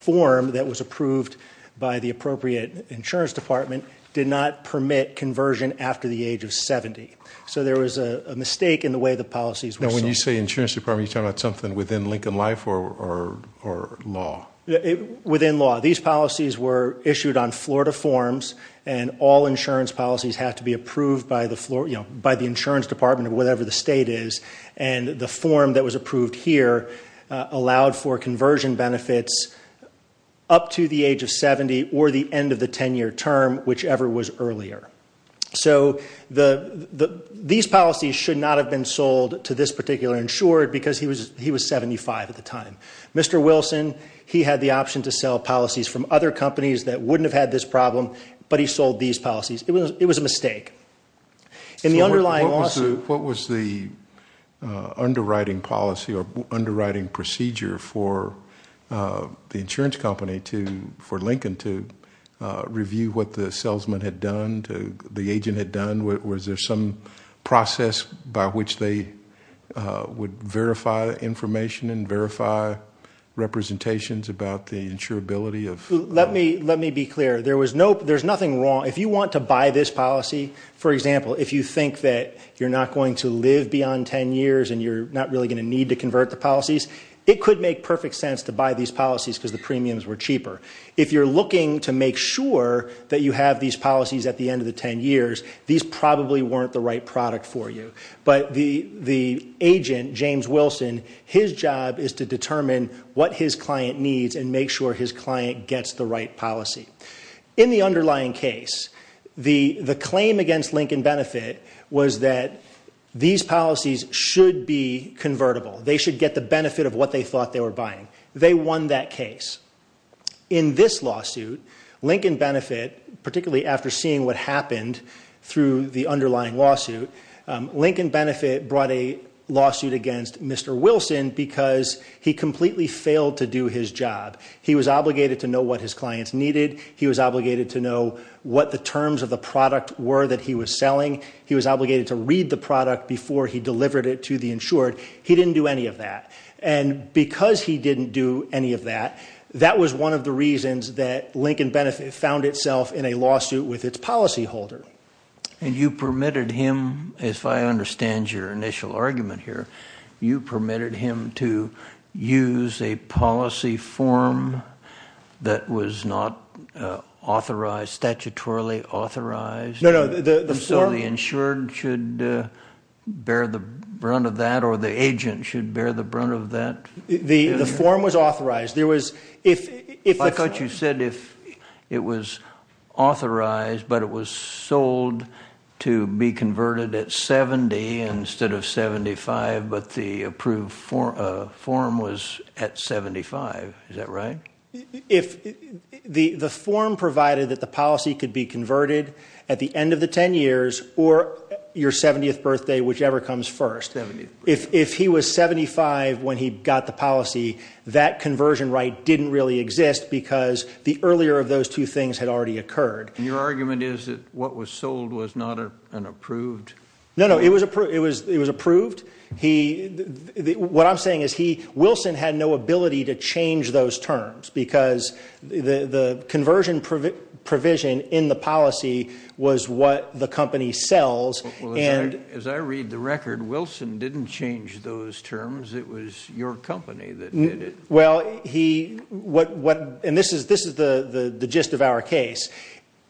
form that was approved by the appropriate insurance department did not permit conversion after the age of 70. So there was a mistake in the way the policies were sold. When you say insurance department, are you talking about something within Lincoln Life or law? Within law. These policies were issued on Florida forms and all insurance policies have to be approved by the insurance department or whatever the state is and the form that was approved here allowed for conversion benefits up to the age of 70 or the end of the 10-year term, whichever was earlier. So these policies should not have been sold to this particular insured because he was 75 at the time. Mr. Wilson, he had the option to sell policies from other companies that wouldn't have had this problem, but he sold these policies. It was a mistake. In the underlying lawsuit, what was the underwriting policy or underwriting procedure for the insurance company for Lincoln to review what the salesman had done, the agent had done? Was there some process by which they would verify information and verify representations about the insurability? Let me be clear. There's nothing wrong. If you want to buy this policy, for example, if you think that you're not going to live beyond 10 years and you're not really going to need to convert the policies, it could make perfect sense to buy these policies because the premiums were cheaper. If you're looking to make sure that you have these policies at the end of the 10 years, these probably weren't the right product for you. But the agent, James Wilson, his job is to determine what his client needs and make sure his client gets the right policy. In the underlying case, the claim against Lincoln Benefit was that these policies should be convertible. They should get the benefit of what they thought they were buying. They won that case. In this lawsuit, Lincoln Benefit, particularly after seeing what happened through the underlying lawsuit, Lincoln Benefit brought a lawsuit against Mr. Wilson because he completely failed to do his job. He was obligated to know what his clients needed. He was obligated to know what the terms of the product were that he was selling. He was obligated to read the product before he delivered it to the insured. He didn't do any of that. And because he didn't do any of that, that was one of the reasons that Lincoln Benefit found itself in a lawsuit with its policyholder. And you permitted him, if I understand your argument here, you permitted him to use a policy form that was not authorized, statutorily authorized. So the insured should bear the brunt of that or the agent should bear the brunt of that. The form was authorized. I thought you said it was authorized but it was sold to be converted at 70 instead of 75, but the approved form was at 75. Is that right? The form provided that the policy could be converted at the end of the 10 years or your 70th birthday, whichever comes first. If he was 75 when he got the policy, that conversion right didn't really exist because the earlier of those two things had already occurred. Your argument is that what was sold was not an approved? No, it was approved. What I'm saying is Wilson had no ability to change those terms because the conversion provision in the policy was what the company sells. As I read the record, Wilson didn't change those terms. It was your company that did it. Well, this is the gist of our case.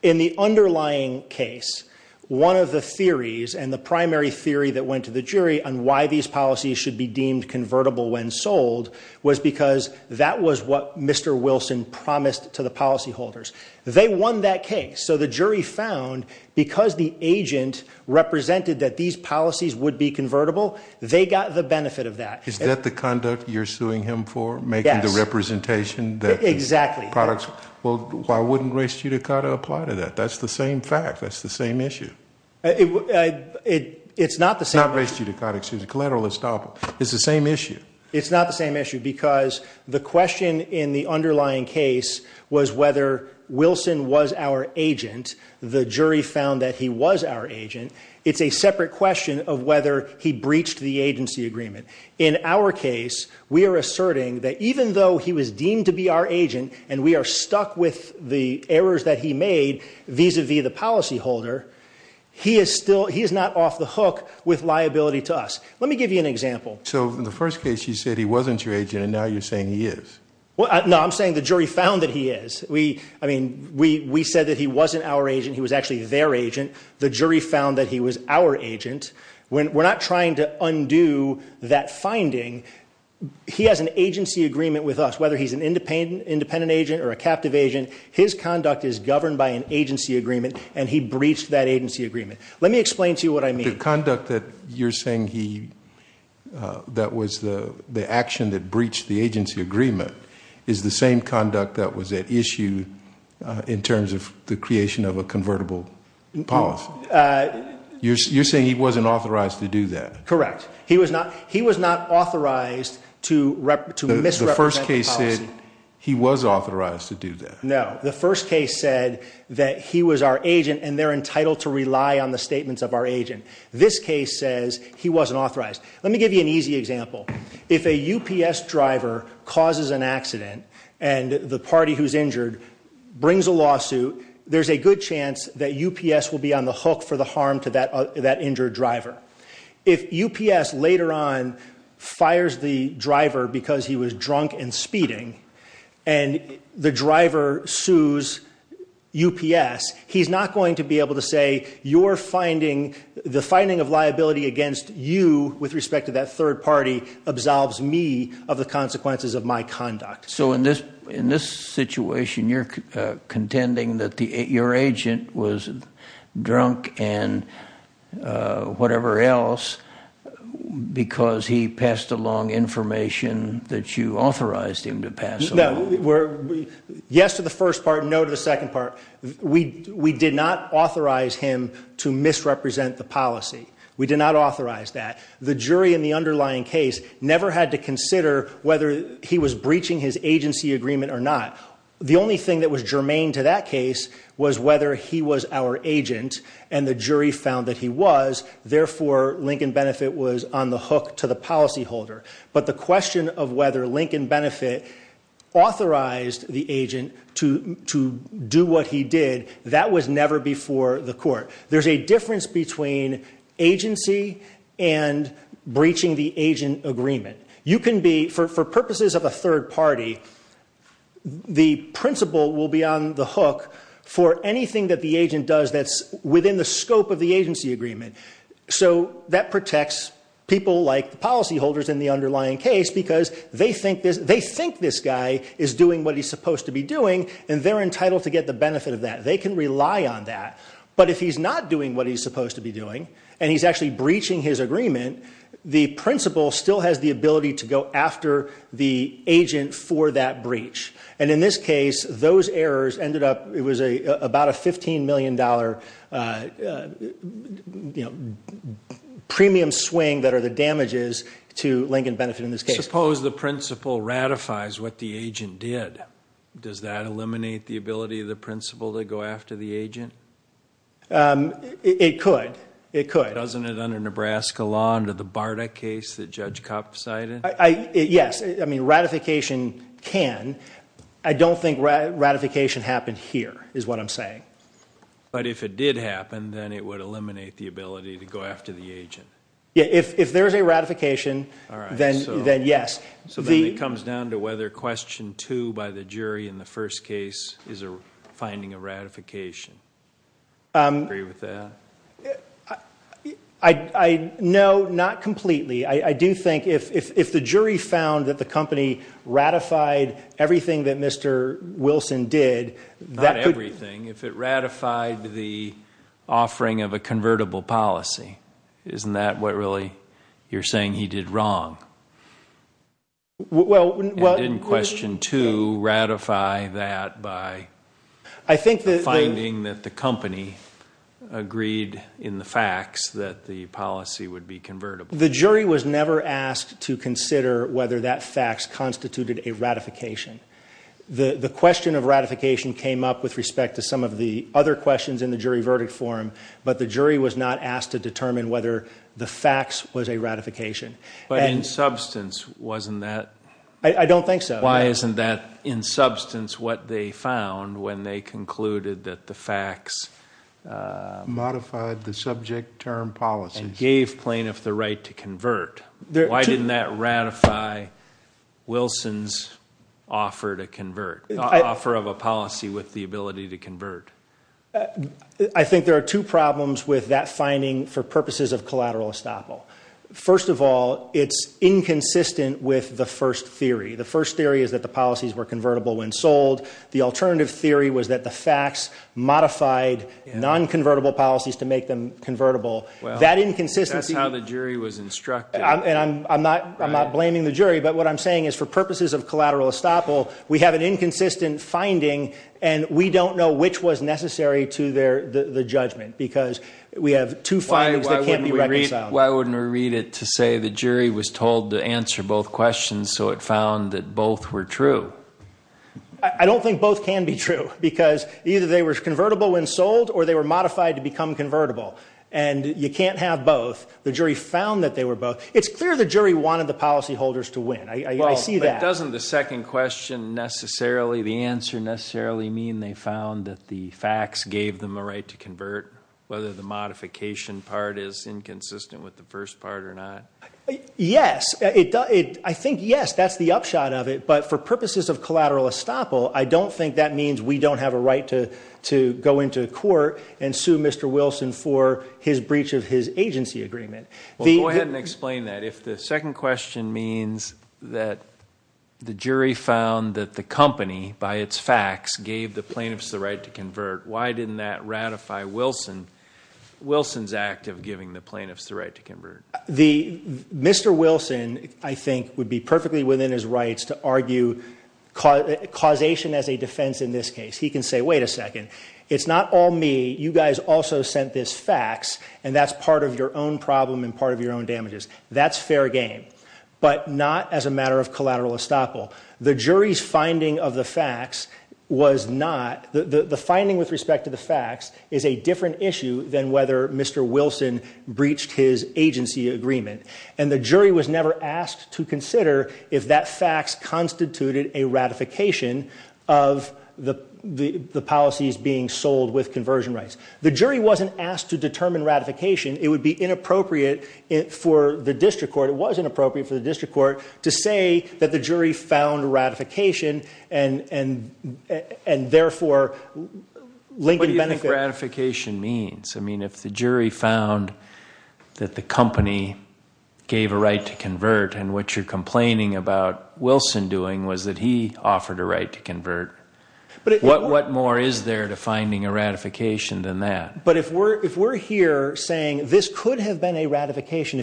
In the underlying case, one of the theories and the primary theory that went to the jury on why these policies should be deemed convertible when sold was because that was what Mr. Wilson promised to the policyholders. They won that case. So the jury found because the agent represented that these policies would be convertible, they got the representation. Exactly. Why wouldn't race judicata apply to that? That's the same fact. That's the same issue. Not race judicata, excuse me, collateral estoppel. It's the same issue. It's not the same issue because the question in the underlying case was whether Wilson was our agent. The jury found that he was our agent. It's a separate question of whether he breached the he was deemed to be our agent and we are stuck with the errors that he made vis-a-vis the policyholder, he is not off the hook with liability to us. Let me give you an example. So in the first case, you said he wasn't your agent and now you're saying he is. No, I'm saying the jury found that he is. We said that he wasn't our agent. He was actually their agent. The jury found that he was our agent. We're not trying to undo that finding. He has an agency agreement with us, whether he's an independent agent or a captive agent, his conduct is governed by an agency agreement and he breached that agency agreement. Let me explain to you what I mean. The conduct that you're saying that was the action that breached the agency agreement is the same conduct that was at issue in terms of the creation of a convertible policy. You're saying he wasn't authorized to do that. Correct. He was not authorized to misrepresent the policy. The first case said he was authorized to do that. No, the first case said that he was our agent and they're entitled to rely on the statements of our agent. This case says he wasn't authorized. Let me give you an easy example. If a UPS driver causes an accident and the party who's injured brings a lawsuit, there's a good chance that UPS will be on the hook for the harm to that injured driver. If UPS later on fires the driver because he was drunk and speeding and the driver sues UPS, he's not going to be able to say the finding of liability against you with respect to that third party absolves me of the consequences of my drunk and whatever else because he passed along information that you authorized him to pass. Yes to the first part, no to the second part. We did not authorize him to misrepresent the policy. We did not authorize that. The jury in the underlying case never had to consider whether he was breaching his agency agreement or not. The only thing that was germane to that case was whether he was our agent and the jury found that he was. Therefore, Lincoln Benefit was on the hook to the policyholder. But the question of whether Lincoln Benefit authorized the agent to do what he did, that was never before the court. There's a difference between agency and breaching the agent agreement. You can be, for purposes of a third party, the principal will be on the hook for anything that the agent does that's within the scope of the agency agreement. So that protects people like the policyholders in the underlying case because they think this guy is doing what he's supposed to be doing and they're entitled to get the benefit of that. They can rely on that. But if he's not doing what he's supposed to be doing and he's breaching his agreement, the principal still has the ability to go after the agent for that breach. And in this case, those errors ended up, it was about a $15 million premium swing that are the damages to Lincoln Benefit in this case. Suppose the principal ratifies what the agent did. Does that eliminate the ability of the principal to go after the agent? It could. It could. Doesn't it under Nebraska law under the Barta case that Judge Kopp cited? Yes. I mean, ratification can. I don't think ratification happened here is what I'm saying. But if it did happen, then it would eliminate the ability to go after the agent. Yeah. If there's a ratification, then yes. So then it comes down to whether question two by the jury in the first case is finding a ratification. Agree with that? I know not completely. I do think if the jury found that the company ratified everything that Mr. Wilson did, that could... Not everything. If it ratified the offering of a convertible policy. Isn't that what really you're saying he did wrong? Well... And in question two, ratify that by finding that the company agreed in the facts that the policy would be convertible. The jury was never asked to consider whether that facts constituted a ratification. The question of ratification came up with respect to some of the other questions in the jury verdict form, but the jury was not asked to determine whether the facts was a ratification. But in substance, wasn't that... I don't think so. Why isn't that in substance what they found when they concluded that the facts... Modified the subject term policy. Gave plaintiff the right to convert. Why didn't that ratify Wilson's offer to convert? Offer of a policy with the ability to convert. I think there are two problems with that finding for purposes of collateral estoppel. First of all, it's inconsistent with the first theory. The first theory is that the policies were convertible when sold. The alternative theory was that the facts modified non-convertible policies to make them convertible. That inconsistency... That's how the jury was instructed. And I'm not blaming the jury, but what I'm saying is for purposes of collateral estoppel, we have an inconsistent finding and we don't know which was necessary to the judgment because we have two findings that can't be reconciled. Why wouldn't we read it to say the jury was told to answer both questions so it found that both were true? I don't think both can be true because either they were convertible when sold or they were modified to become convertible. And you can't have both. The jury found that they were both... It's clear the jury wanted the policyholders to win. I see that. Doesn't the second question necessarily, the answer necessarily mean they found that the modification part is inconsistent with the first part or not? Yes. I think yes, that's the upshot of it. But for purposes of collateral estoppel, I don't think that means we don't have a right to go into court and sue Mr. Wilson for his breach of his agency agreement. Well, go ahead and explain that. If the second question means that the jury found that the company by its facts gave the plaintiffs the right to convert, why didn't that ratify Wilson Wilson's act of giving the plaintiffs the right to convert? The Mr. Wilson, I think, would be perfectly within his rights to argue causation as a defense in this case. He can say, wait a second, it's not all me. You guys also sent this facts and that's part of your own problem and part of your own damages. That's fair game, but not as a matter of collateral estoppel. The jury's finding of the facts was not... The finding with respect to the facts is a different issue than whether Mr. Wilson breached his agency agreement. The jury was never asked to consider if that facts constituted a ratification of the policies being sold with conversion rights. The jury wasn't asked to determine ratification. It would be inappropriate for the district court, it was inappropriate for the district court to say that the jury found ratification and therefore... What do you think ratification means? If the jury found that the company gave a right to convert and what you're complaining about Wilson doing was that he offered a right to convert, what more is there to finding a ratification than that? If we're here saying this could have been a ratification,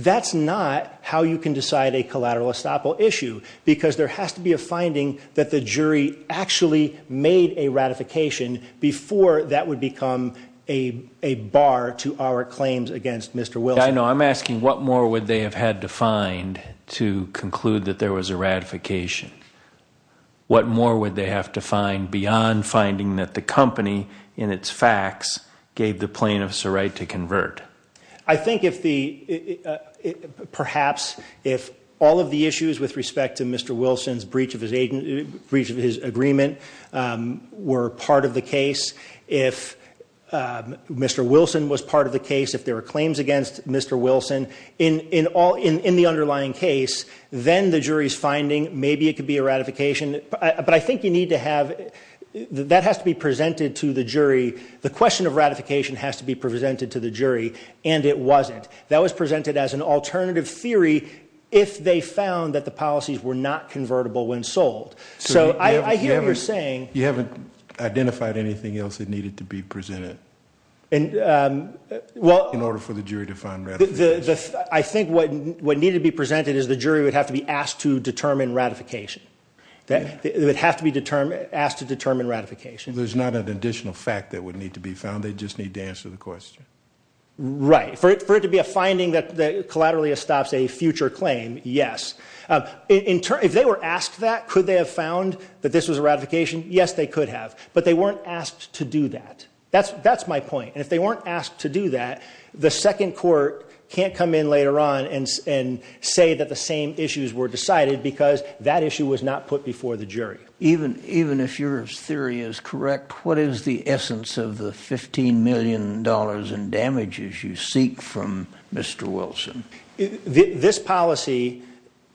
that's not how you can decide a collateral estoppel issue because there has to be a finding that the jury actually made a ratification before that would become a bar to our claims against Mr. Wilson. I know, I'm asking what more would they have had to find to conclude that there was a ratification? What more would they have to find beyond finding that the company in its facts gave the plaintiffs a right to convert? I think if the... Perhaps if all of the issues with respect to Mr. Wilson's breach of his agreement were part of the case, if Mr. Wilson was part of the case, if there were claims against Mr. Wilson in the underlying case, then the jury's finding maybe it could be a ratification but I think you need to have, that has to be presented to the jury, the question of ratification has to be presented to the jury and it wasn't. That was presented as an alternative theory if they found that the policies were not convertible when sold. So I hear you're saying... You haven't identified anything else that needed to be presented in order for the jury to find ratification. I think what needed to be presented is the jury would have to be asked to determine ratification. They would have to be asked to determine ratification. There's not an additional fact that would need to be found, they just need to answer the question. Right. For it to be a finding that collaterally stops a future claim, yes. If they were asked that, could they have found that this was a ratification? Yes, they could have but they weren't asked to do that. That's my point and if they weren't asked to do that, the second court can't come in later on and say that the same issues were decided because that issue was not put before the jury. Even if your theory is correct, what is the essence of the 15 million dollars in damages you seek from Mr. Wilson? This policy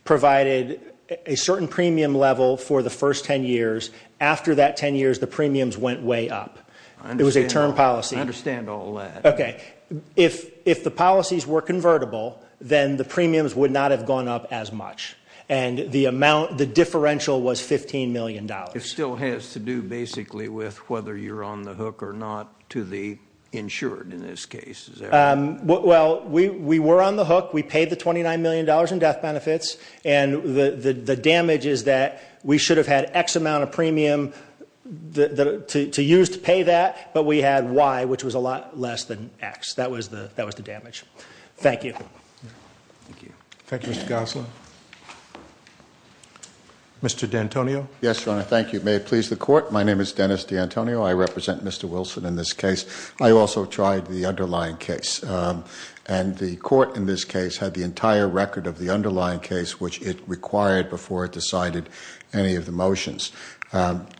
provided a certain premium level for the first 10 years. After that 10 years, the premiums went way up. It was a term policy. I understand all that. Okay, if the policies were convertible, then the premiums would not have gone up as much and the amount, the differential was 15 million dollars. It still has to do basically with whether you're on the hook or not to the insured in this case. Well, we were on the hook. We paid the 29 million dollars in death benefits and the damage is that we should have had x amount of premium to use to pay that, but we had y which was a lot less than x. That was the damage. Thank you. Thank you, Mr. Gosselin. Mr. D'Antonio. Yes, your honor. Thank you. May it please the court. My name is Dennis D'Antonio. I represent Mr. Wilson in this case. I also tried the underlying case and the court in this case had the entire record of the underlying case which it required before it decided any of the motions.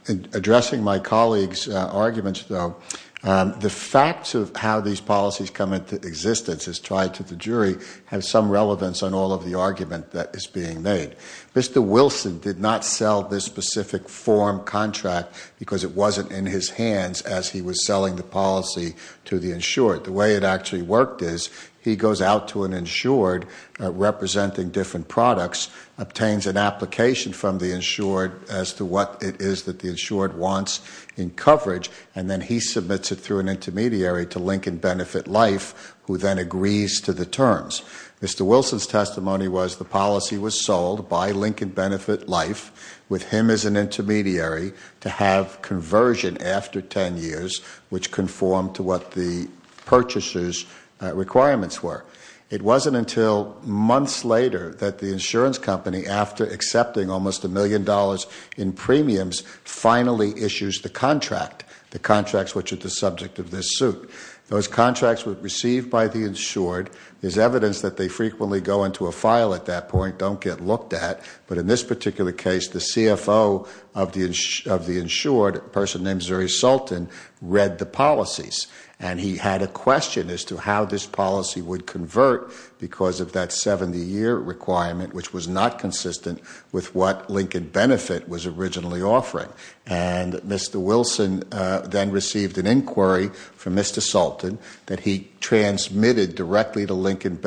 Addressing my colleague's arguments though, the facts of how these policies come into existence as tried to the jury have some relevance on all of the argument that is being made. Mr. Wilson did not sell this specific form contract because it wasn't in his hands as he was selling the policy to the insured. The way it actually worked is he goes out to an insured representing different products, obtains an application from the insured as to what it is that the insured wants in coverage and then he submits it through an intermediary to Lincoln Benefit Life who then agrees to the terms. Mr. Wilson's testimony was the policy was sold by Lincoln Benefit Life with him as an intermediary to have conversion after 10 years which conformed to what the purchaser's requirements were. It wasn't until months later that the insurance company after accepting almost a million dollars in premiums finally issues the contract, the contracts which are the subject of this suit. Those contracts were received by the insured. There's evidence that they frequently go into a file at that point, don't get looked at, but in this particular case the CFO of the insured, a person named Zuri Sultan, read the policies and he had a question as to how this policy would convert because of that 70-year requirement which was not consistent with what Lincoln Benefit was originally offering. And Mr. Wilson then received an inquiry from Mr. Sultan that he transmitted directly to Lincoln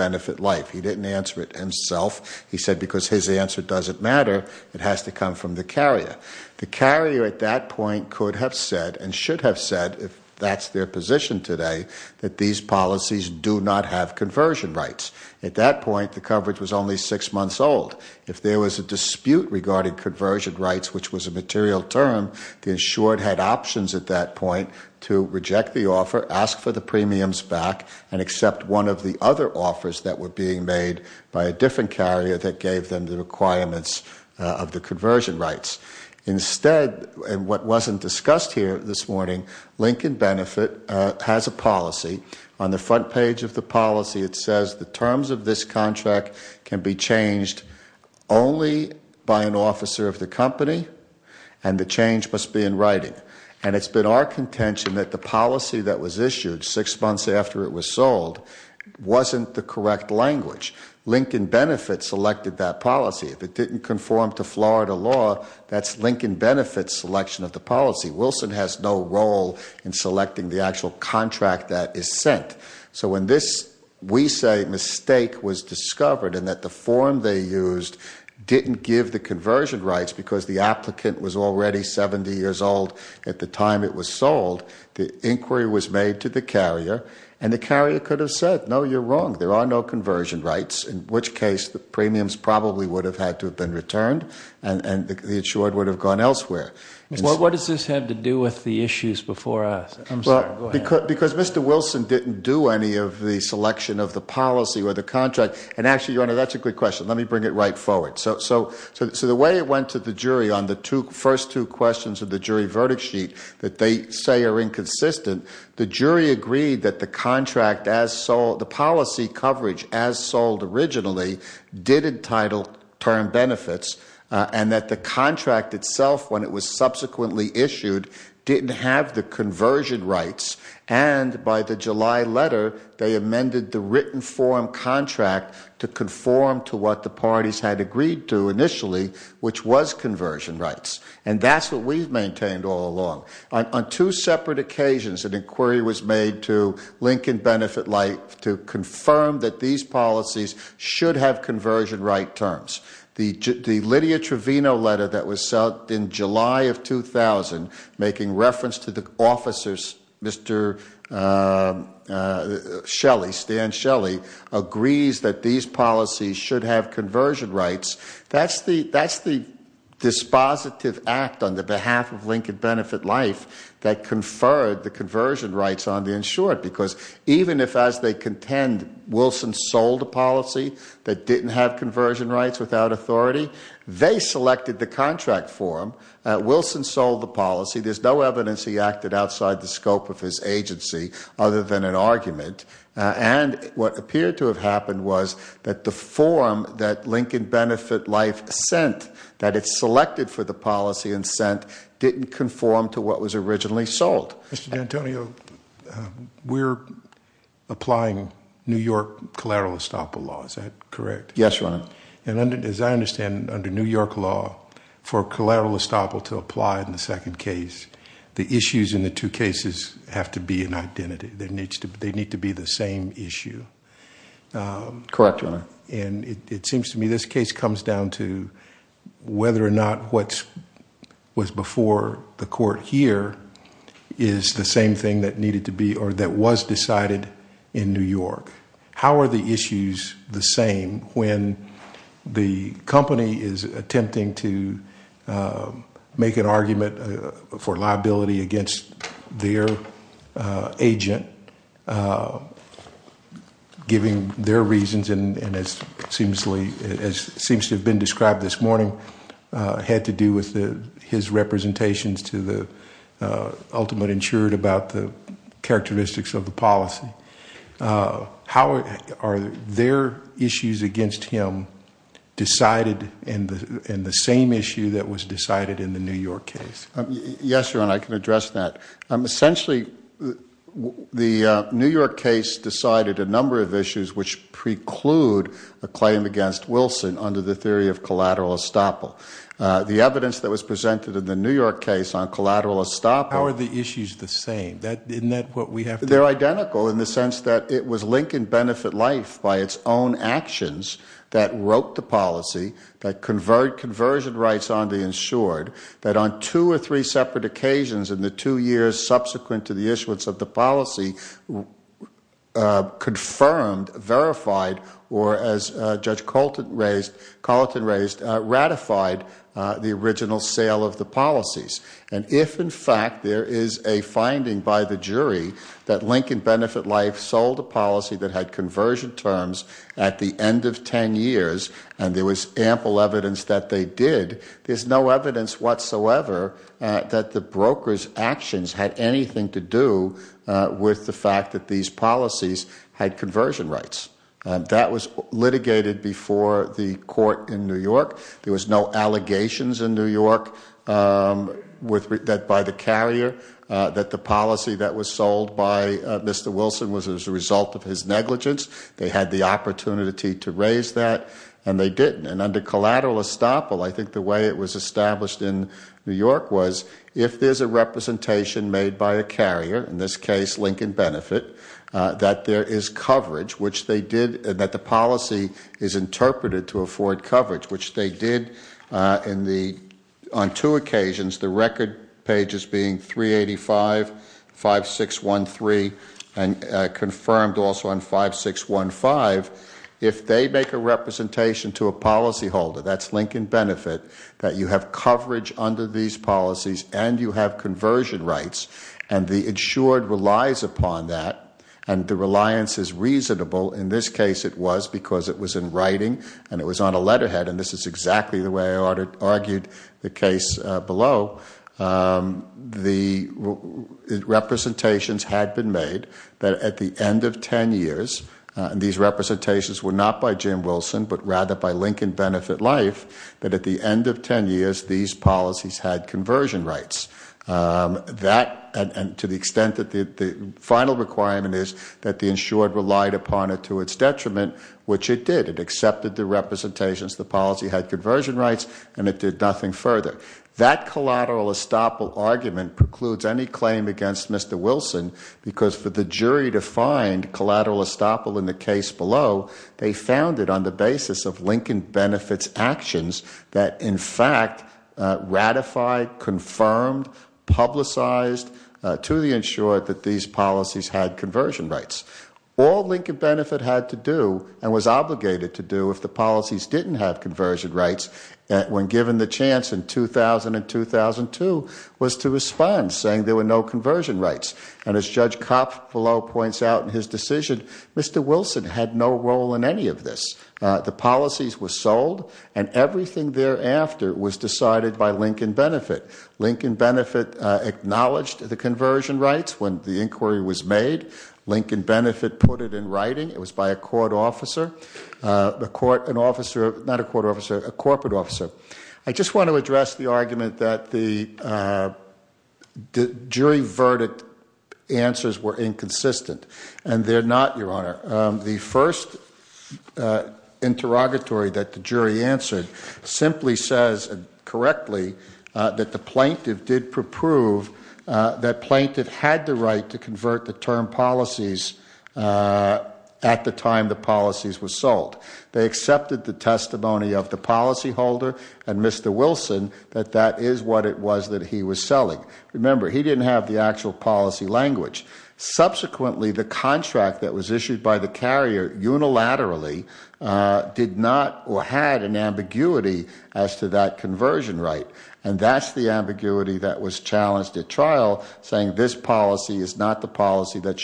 has to come from the carrier. The carrier at that point could have said and should have said, if that's their position today, that these policies do not have conversion rights. At that point the coverage was only six months old. If there was a dispute regarding conversion rights which was a material term, the insured had options at that point to reject the offer, ask for the premiums back, and accept one of the other offers that were being made by a different carrier that gave them the requirements of the conversion rights. Instead, and what wasn't discussed here this morning, Lincoln Benefit has a policy. On the front page of the policy it says the terms of this contract can be changed only by an officer of the company and the change must be in writing. And it's been our contention that the policy that was issued six months after it was sold wasn't the correct language. Lincoln Benefit selected that policy. If it didn't conform to Florida law, that's Lincoln Benefit's selection of the policy. Wilson has no role in selecting the actual contract that is sent. So when this, we say, mistake was discovered and that the form they used didn't give the conversion rights because the applicant was already 70 years old at the time it was sold, the inquiry was made to the carrier and the carrier could have said, no, you're wrong, there are no conversion rights, in which case the premiums probably would have had to have been returned and the insured would have gone elsewhere. What does this have to do with the issues before us? I'm sorry, go ahead. Because Mr. Wilson didn't do any of the selection of the policy or the contract. And actually, the way it went to the jury on the first two questions of the jury verdict sheet that they say are inconsistent, the jury agreed that the policy coverage as sold originally did entitle term benefits and that the contract itself, when it was subsequently issued, didn't have the conversion rights. And by the July letter, they amended the written form contract to conform to what the parties had agreed to initially, which was conversion rights. And that's what we've maintained all along. On two separate occasions, an inquiry was made to Lincoln Benefit Life to confirm that these policies should have conversion right terms. The Lydia Trevino letter that was sent in July of 2000, making reference to the officers, Mr. Shelley, Stan Shelley, agrees that these policies should have conversion rights. That's the dispositive act on the behalf of Lincoln Benefit Life that conferred the conversion rights on the insured. Because even if, as they contend, Wilson sold a policy that didn't have conversion rights without authority, they selected the contract for him. Wilson sold the policy. There's no evidence he acted outside the scope of his agency other than an argument. And what appeared to have happened was that the form that Lincoln Benefit Life sent, that it selected for the policy and sent, didn't conform to what was originally sold. Mr. D'Antonio, we're applying New York collateral estoppel law. Is that correct? Yes, Your Honor. And as I understand, under New York law, for collateral estoppel to apply in the second case, the issues in the two cases have to be an identity. They need to be the same issue. Correct, Your Honor. And it seems to me this case comes down to whether or not what was before the court here is the same thing that needed to be or that was decided in New York. How are the issues the same when the company is attempting to make an argument for liability against their agent, giving their reasons, and as seems to have been described this morning, had to do with his representations to the ultimate insured about the characteristics of the policy? How are their issues against him decided in the same issue that was decided in the New York case? Yes, Your Honor, I can address that. Essentially, the New York case decided a number of issues which preclude a claim against Wilson under the theory of collateral estoppel. The evidence that was presented in the New York case on collateral estoppel... How are the issues the same? Isn't that what we have to... They're identical in the sense that it was Lincoln Benefit Life by its own actions that wrote the policy, that conversion rights on the insured, that on two or three separate occasions in the two years subsequent to the issuance of the policy, confirmed, verified, or as Judge Carlton raised, ratified the original sale of the policies. And if, in fact, there is a finding by the jury that Lincoln Benefit Life sold a policy that had conversion terms at the end of 10 years, and there was ample evidence that they did, there's no evidence whatsoever that the broker's actions had anything to do with the fact that these policies had conversion rights. That was litigated before the court in New York. There was no allegations in that the policy that was sold by Mr. Wilson was as a result of his negligence. They had the opportunity to raise that, and they didn't. And under collateral estoppel, I think the way it was established in New York was, if there's a representation made by a carrier, in this case, Lincoln Benefit, that there is coverage, which they did, and that the policy is interpreted to be 385, 5613, and confirmed also on 5615, if they make a representation to a policyholder, that's Lincoln Benefit, that you have coverage under these policies, and you have conversion rights, and the insured relies upon that, and the reliance is reasonable. In this case, it was because it was in writing, and it was on a letterhead, and this is exactly the way I argued the case below. The representations had been made that at the end of 10 years, and these representations were not by Jim Wilson, but rather by Lincoln Benefit Life, that at the end of 10 years, these policies had conversion rights. That, and to the extent that the final requirement is that the insured relied upon it to its detriment, which it did. It did nothing further. That collateral estoppel argument precludes any claim against Mr. Wilson, because for the jury to find collateral estoppel in the case below, they found it on the basis of Lincoln Benefit's actions that, in fact, ratified, confirmed, publicized to the insured that these policies had conversion rights. All Lincoln Benefit had to do, and was obligated to do, if the policies didn't have conversion rights, when given the chance in 2000 and 2002, was to respond, saying there were no conversion rights. And as Judge Coppolo points out in his decision, Mr. Wilson had no role in any of this. The policies were sold, and everything thereafter was decided by Lincoln Benefit. Lincoln Benefit acknowledged the conversion rights when the not a court officer, a corporate officer. I just want to address the argument that the jury verdict answers were inconsistent. And they're not, Your Honor. The first interrogatory that the jury answered simply says, correctly, that the plaintiff did prove that plaintiff had the right to convert the term policies at the time the policies were sold. They accepted the testimony of the policyholder and Mr. Wilson that that is what it was that he was selling. Remember, he didn't have the actual policy language. Subsequently, the contract that was issued by the carrier unilaterally did not or had an ambiguity as to that conversion right. And that's the ambiguity that was challenged at trial, saying this policy is not the policy that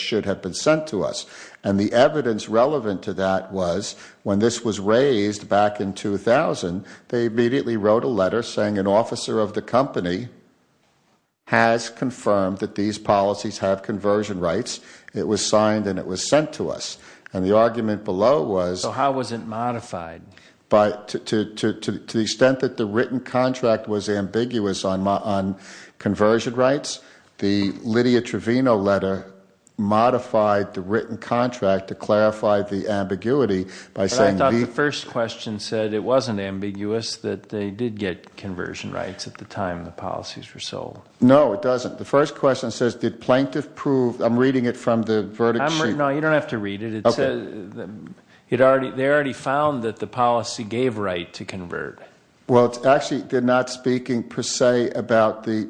this was raised back in 2000. They immediately wrote a letter saying an officer of the company has confirmed that these policies have conversion rights. It was signed and it was sent to us. And the argument below was... So how was it modified? To the extent that the written contract was ambiguous on conversion rights, the Lydia Trevino letter modified the written contract to clarify the ambiguity by saying... But I thought the first question said it wasn't ambiguous that they did get conversion rights at the time the policies were sold. No, it doesn't. The first question says, did plaintiff prove... I'm reading it from the verdict sheet. No, you don't have to read it. They already found that the policy gave right to convert. Well, actually, they're not speaking per se about the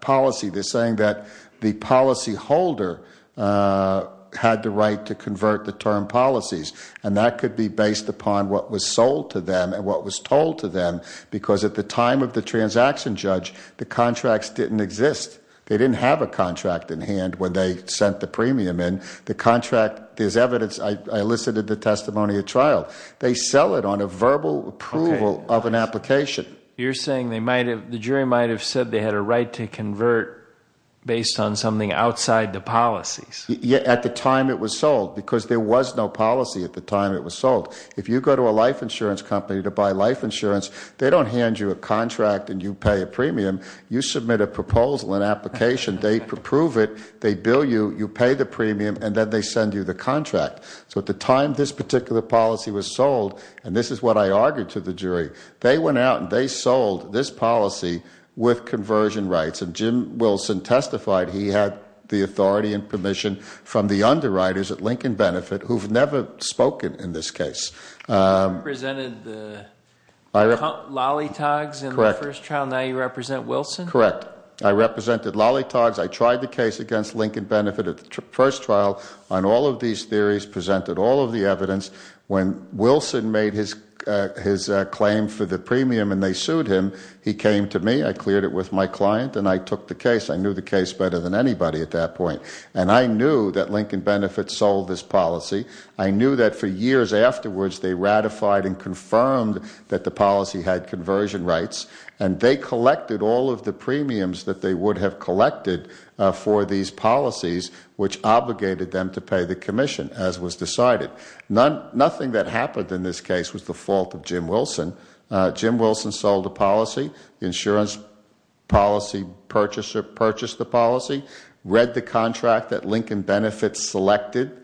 policy. They're saying that the policyholder had the right to convert the term policies. And that could be based upon what was sold to them and what was told to them. Because at the time of the transaction judge, the contracts didn't exist. They didn't have a contract in hand when they sent the premium in. The contract, there's evidence... I elicited the testimony at trial. They sell it on a verbal approval of an application. You're saying the jury might've said they had a right to convert based on something outside the policies. At the time it was sold, because there was no policy at the time it was sold. If you go to a life insurance company to buy life insurance, they don't hand you a contract and you pay a premium. You submit a proposal, an application, they approve it, they bill you, you pay the premium, and then they send you the contract. So at the time this particular policy was sold, and this is what I argued to the jury, they went out and they sold this policy with conversion rights. And Jim Wilson testified he had the authority and permission from the underwriters at Lincoln Benefit who've never spoken in this case. You represented Lollitogs in the first trial. Now you represent Wilson? Correct. I represented Lollitogs. I tried the case against Lincoln Benefit at the first trial on all of these theories, presented all of the evidence. When Wilson made his claim for the premium and they sued him, he came to me. I cleared it with my client and I took the case. I knew the case better than anybody at that point. And I knew that Lincoln Benefit sold this policy. I knew that for years afterwards they ratified and confirmed that the policy had conversion rights. And they collected all of the premiums that they would have collected for these policies, which obligated them to pay the commission, as was decided. Nothing that happened in this case was the fault of Jim Wilson. Jim Wilson sold the policy. The insurance policy purchaser purchased the policy, read the contract that Lincoln Benefit selected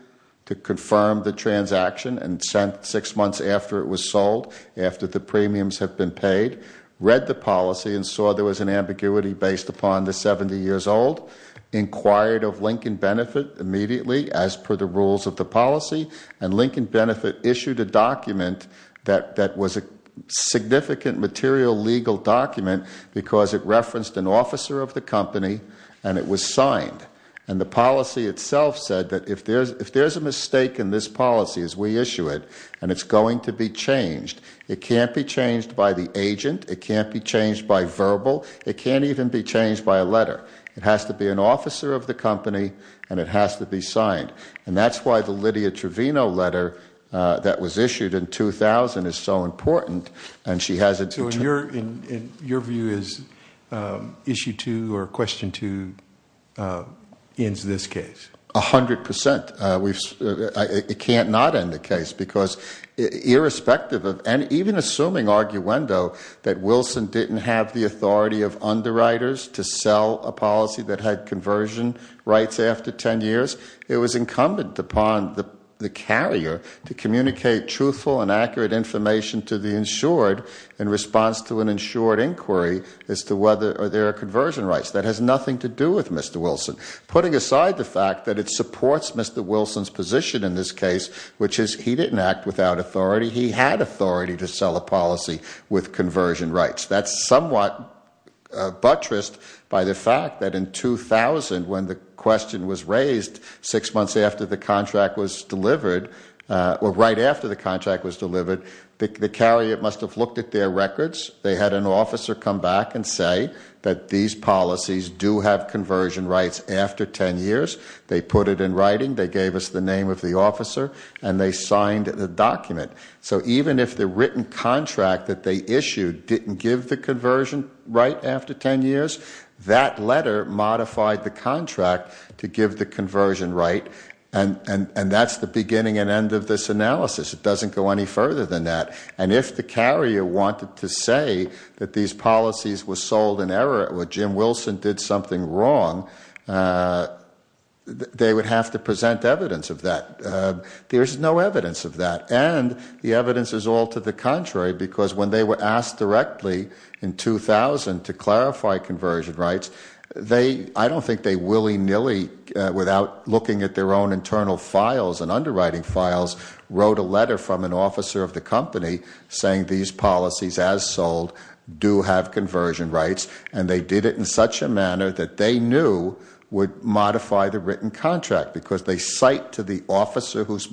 to confirm the transaction and sent six months after it was sold, after the premiums have been paid. Read the policy and saw there was an ambiguity based upon the 70 years old. Inquired of Lincoln Benefit immediately as per the rules of the policy. And Lincoln Benefit issued a document that was a significant material legal document because it referenced an officer of the company and it was signed. And the policy itself said that if there's a mistake in this policy as we issue it, and it's going to be changed, it can't be changed by the agent. It can't be changed by verbal. It can't even be changed by a letter. It has to be an officer of the company and it has to be signed. And that's why the Lydia Trevino letter that was issued in 2000 is so important and she has it. So in your view is issue two or question two ends this case? A hundred percent. It can't not end the case because irrespective of, and even assuming arguendo, that Wilson didn't have the authority of underwriters to sell a policy that had conversion rights after 10 years, it was incumbent upon the carrier to communicate truthful and accurate information to the insured in response to an insured inquiry as to whether or there are conversion rights. That has nothing to do with Mr. Wilson. Putting aside the fact that it supports Mr. Wilson's position in this case, which is he didn't act without authority. He had authority to sell a policy with conversion rights. That's somewhat buttressed by the fact that in 2000 when the question was raised six months after the contract was delivered, or right after the contract was delivered, the carrier must have looked at their records. They had an officer come back and say that these policies do have conversion rights after 10 years. They put it in writing. They gave us the name of the officer and they signed the document. So even if the written contract that they issued didn't give the conversion right after 10 years, that letter modified the contract to give the conversion right. That's the beginning and end of this analysis. It doesn't go any further than that. If the carrier wanted to say that these policies were sold in error or Jim Wilson did something wrong, they would have to present evidence of that. There's no evidence of that. The evidence is all to the contrary because when they were asked directly in 2000 to clarify conversion rights, I don't think they willy-nilly without looking at their own internal files and underwriting files wrote a letter from an officer of the company saying these policies as sold do have conversion rights. They did it in such a manner that they knew would modify the written contract because they cite to the officer who's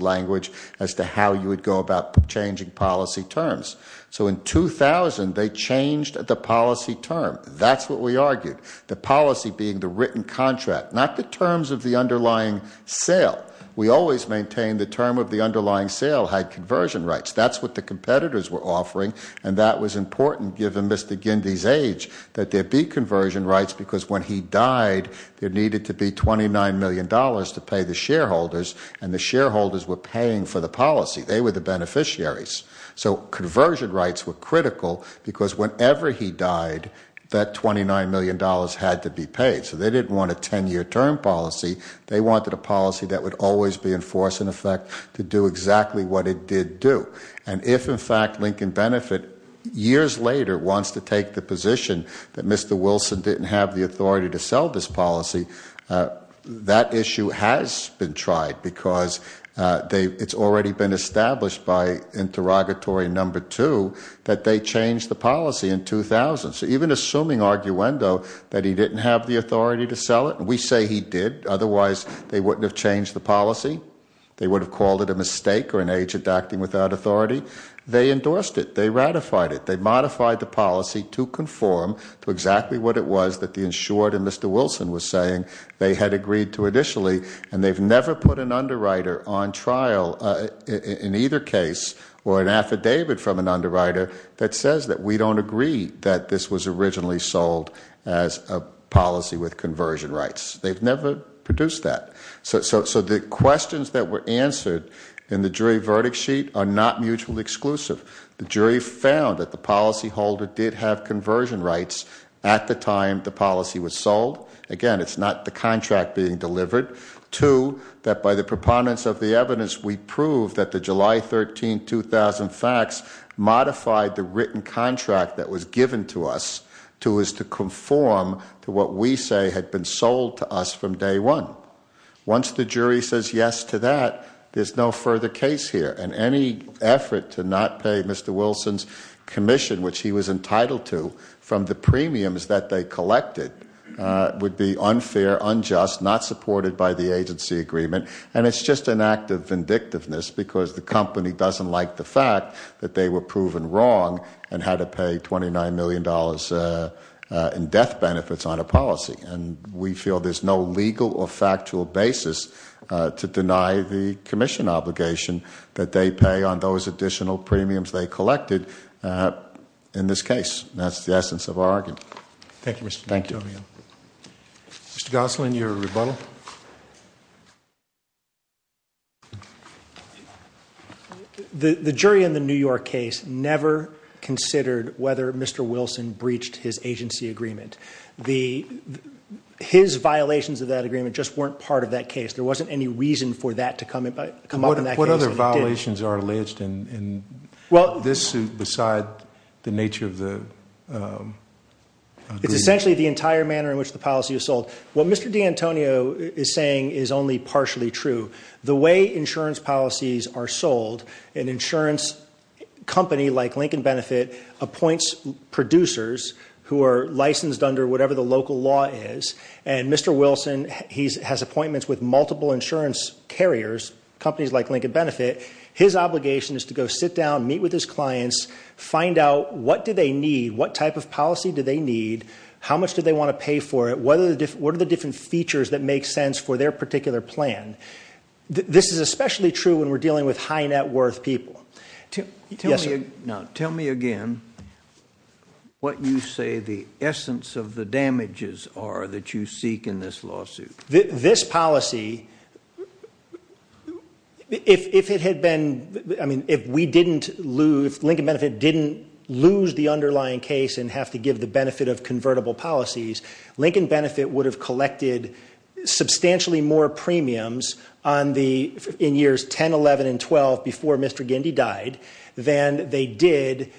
language as to how you would go about changing policy terms. So in 2000, they changed the policy term. That's what we argued. The policy being the written contract, not the terms of the underlying sale. We always maintain the term of the underlying sale had conversion rights. That's what the competitors were offering and that was important given Mr. Gindy's age that there be conversion rights because when he died, there needed to be $29 million to pay the shareholders and the shareholders were paying for the policy. They were the beneficiaries. So conversion rights were critical because whenever he died, that $29 million had to be paid. So they didn't want a 10-year term policy. They wanted a policy that would always be in force and in effect to do exactly what it did do. And if in fact Lincoln Benefit years later wants to take the position that Mr. Wilson didn't have the authority to sell this policy, that issue has been tried because it's already been established by interrogatory number two that they changed the policy in 2000. So even assuming arguendo that he didn't have the authority to sell it, we say he did, otherwise they wouldn't have changed the policy. They would have called it a mistake or an agent acting without authority. They endorsed it. They ratified it. They modified the policy to conform to exactly what it was that the insured and Mr. Wilson was saying they had agreed to initially and they've never put an underwriter on trial in either case or an affidavit from an underwriter that says that we don't agree that this was originally sold as a policy with conversion rights. They've never produced that. So the questions that were answered in the jury verdict sheet are not mutually exclusive. The jury found that the policyholder did have conversion rights at the time the policy was sold. Again, it's not the contract being delivered. Two, that by the preponderance of the evidence we proved that the July 13, 2000 facts modified the written contract that was given to us to conform to what we say had been sold to us from day one. Once the jury says yes to that, there's no further case here and any effort to not pay Mr. Wilson's commission which he was entitled to from the premiums that they collected would be unfair, unjust, not supported by the agency agreement and it's just an act of vindictiveness because the company doesn't like the fact that they were proven wrong and had to pay $29 million in death benefits on a policy and we feel there's no legal or on those additional premiums they collected in this case. That's the essence of our argument. Thank you, Mr. Gosselin. Mr. Gosselin, your rebuttal. The jury in the New York case never considered whether Mr. Wilson breached his agency agreement. His violations of that agreement just weren't part of that case. There wasn't any reason for that to come up in that case. What other violations are alleged in this suit besides the nature of the agreement? It's essentially the entire manner in which the policy is sold. What Mr. D'Antonio is saying is only partially true. The way insurance policies are sold, an insurance company like Lincoln Benefit appoints producers who are licensed under whatever the local law is and Mr. Wilson has appointments with multiple insurance carriers, companies like Lincoln Benefit. His obligation is to go sit down, meet with his clients, find out what do they need, what type of policy do they need, how much do they want to pay for it, what are the different features that make sense for their particular plan. This is especially true when we're dealing with high net worth people. Tell me again what you say the essence of the damages are that you seek in this lawsuit. This policy, if Lincoln Benefit didn't lose the underlying case and have to give the benefit of convertible policies, Lincoln Benefit would have collected substantially more premiums in years 10, 11, and 12 before Mr. Gindy died than they did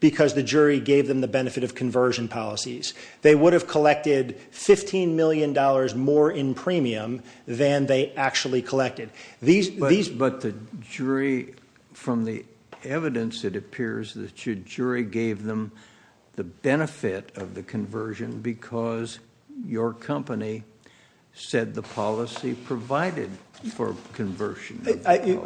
because the jury gave them the benefit of conversion policies. They would have collected $15 million more in premium than they actually collected. But the jury, from the evidence it appears that your jury gave them the benefit of the conversion because your company said the policy provided for conversion.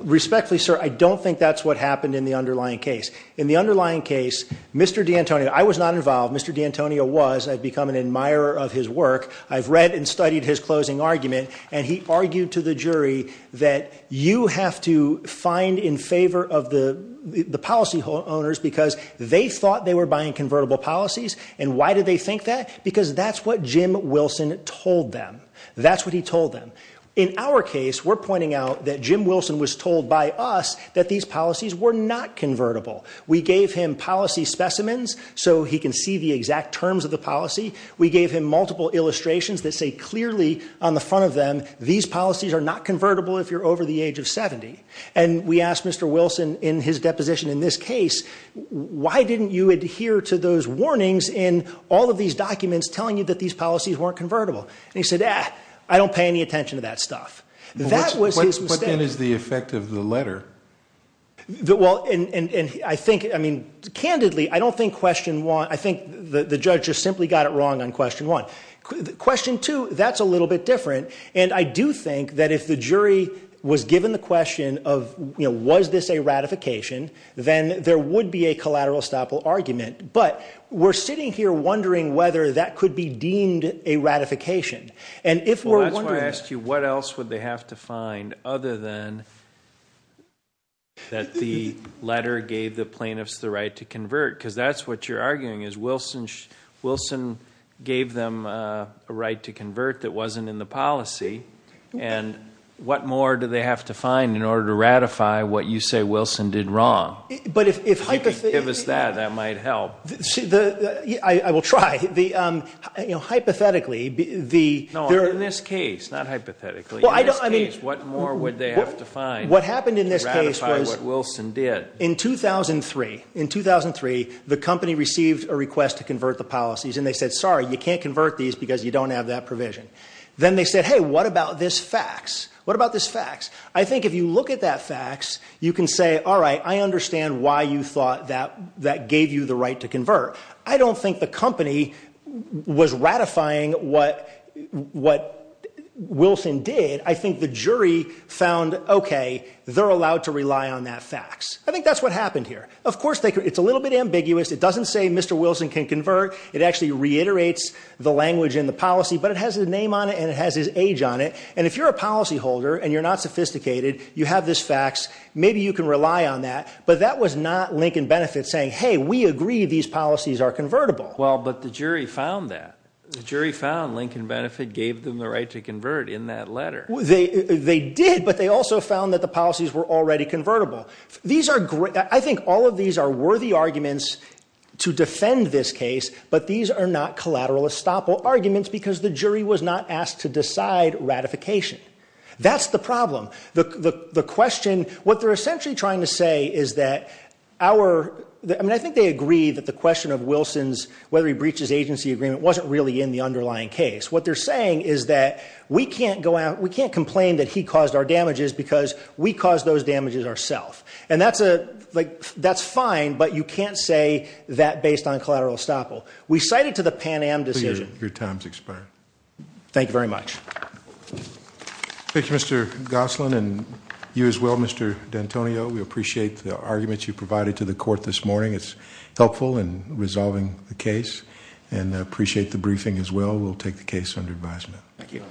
Respectfully sir, I don't think that's what happened in the underlying case. In the underlying case, Mr. D'Antonio, I was not involved, Mr. D'Antonio was, I've become an admirer of his work, I've read and studied his closing argument, and he argued to the jury that you have to find in favor of the the policy owners because they thought they were buying convertible policies and why did they think that? Because that's what Jim Wilson told them. That's what he told them. In our case, we're pointing out that Jim Wilson was told by us that these policies were not convertible. We gave him policy specimens so he can see the exact terms of the policy. We gave him multiple illustrations that say clearly on the front of them, these policies are not convertible if you're over the age of 70. And we asked Mr. Wilson in his deposition in this case, why didn't you adhere to those warnings in all of these documents telling you that these policies weren't convertible? And he said, ah, I don't pay any attention to that stuff. That was his mistake. What then is the effect of the letter? Well, and I think, I mean, candidly, I don't think question one, I think the judge just simply got it wrong on question one. Question two, that's a little bit different. And I do think that if the jury was given the question of, you know, was this a ratification, then there would be a collateral estoppel argument. But we're sitting here wondering whether that could be deemed a ratification. Well, that's why I asked you, what else would they have to find other than that the letter gave the plaintiffs the right to convert? Because that's what you're arguing is Wilson gave them a right to convert that wasn't in the policy. And what more do they have to find in order to ratify what you say Wilson did wrong? If you could give us that, that might help. Yeah, I will try. You know, hypothetically. No, in this case, not hypothetically. In this case, what more would they have to find to ratify what Wilson did? What happened in this case was in 2003, in 2003, the company received a request to convert the policies. And they said, sorry, you can't convert these because you don't have that provision. Then they said, hey, what about this fax? What about this fax? I think if you look at that fax, you can say, I understand why you thought that gave you the right to convert. I don't think the company was ratifying what Wilson did. I think the jury found, okay, they're allowed to rely on that fax. I think that's what happened here. Of course, it's a little bit ambiguous. It doesn't say Mr. Wilson can convert. It actually reiterates the language in the policy, but it has his name on it and it has his age on it. And if you're a policyholder and you're not sophisticated, you have this fax, maybe you can rely on that. But that was not Lincoln Benefit saying, hey, we agree these policies are convertible. Well, but the jury found that. The jury found Lincoln Benefit gave them the right to convert in that letter. They did, but they also found that the policies were already convertible. I think all of these are worthy arguments to defend this case, but these are not collateral estoppel arguments because the jury was not asked to decide ratification. That's the problem. The question, what they're essentially trying to say is that our, I mean, I think they agree that the question of Wilson's, whether he breaches agency agreement wasn't really in the underlying case. What they're saying is that we can't go out, we can't complain that he caused our damages because we caused those damages ourself. And that's a, like, that's fine, but you can't say that based on collateral estoppel. We cited to the Pan Am decision. Your time's expired. Thank you very much. Thank you, Mr Gosselin and you as well, Mr D'Antonio. We appreciate the arguments you provided to the court this morning. It's helpful in resolving the case and appreciate the briefing as well. We'll take the case under advisement. Thank you.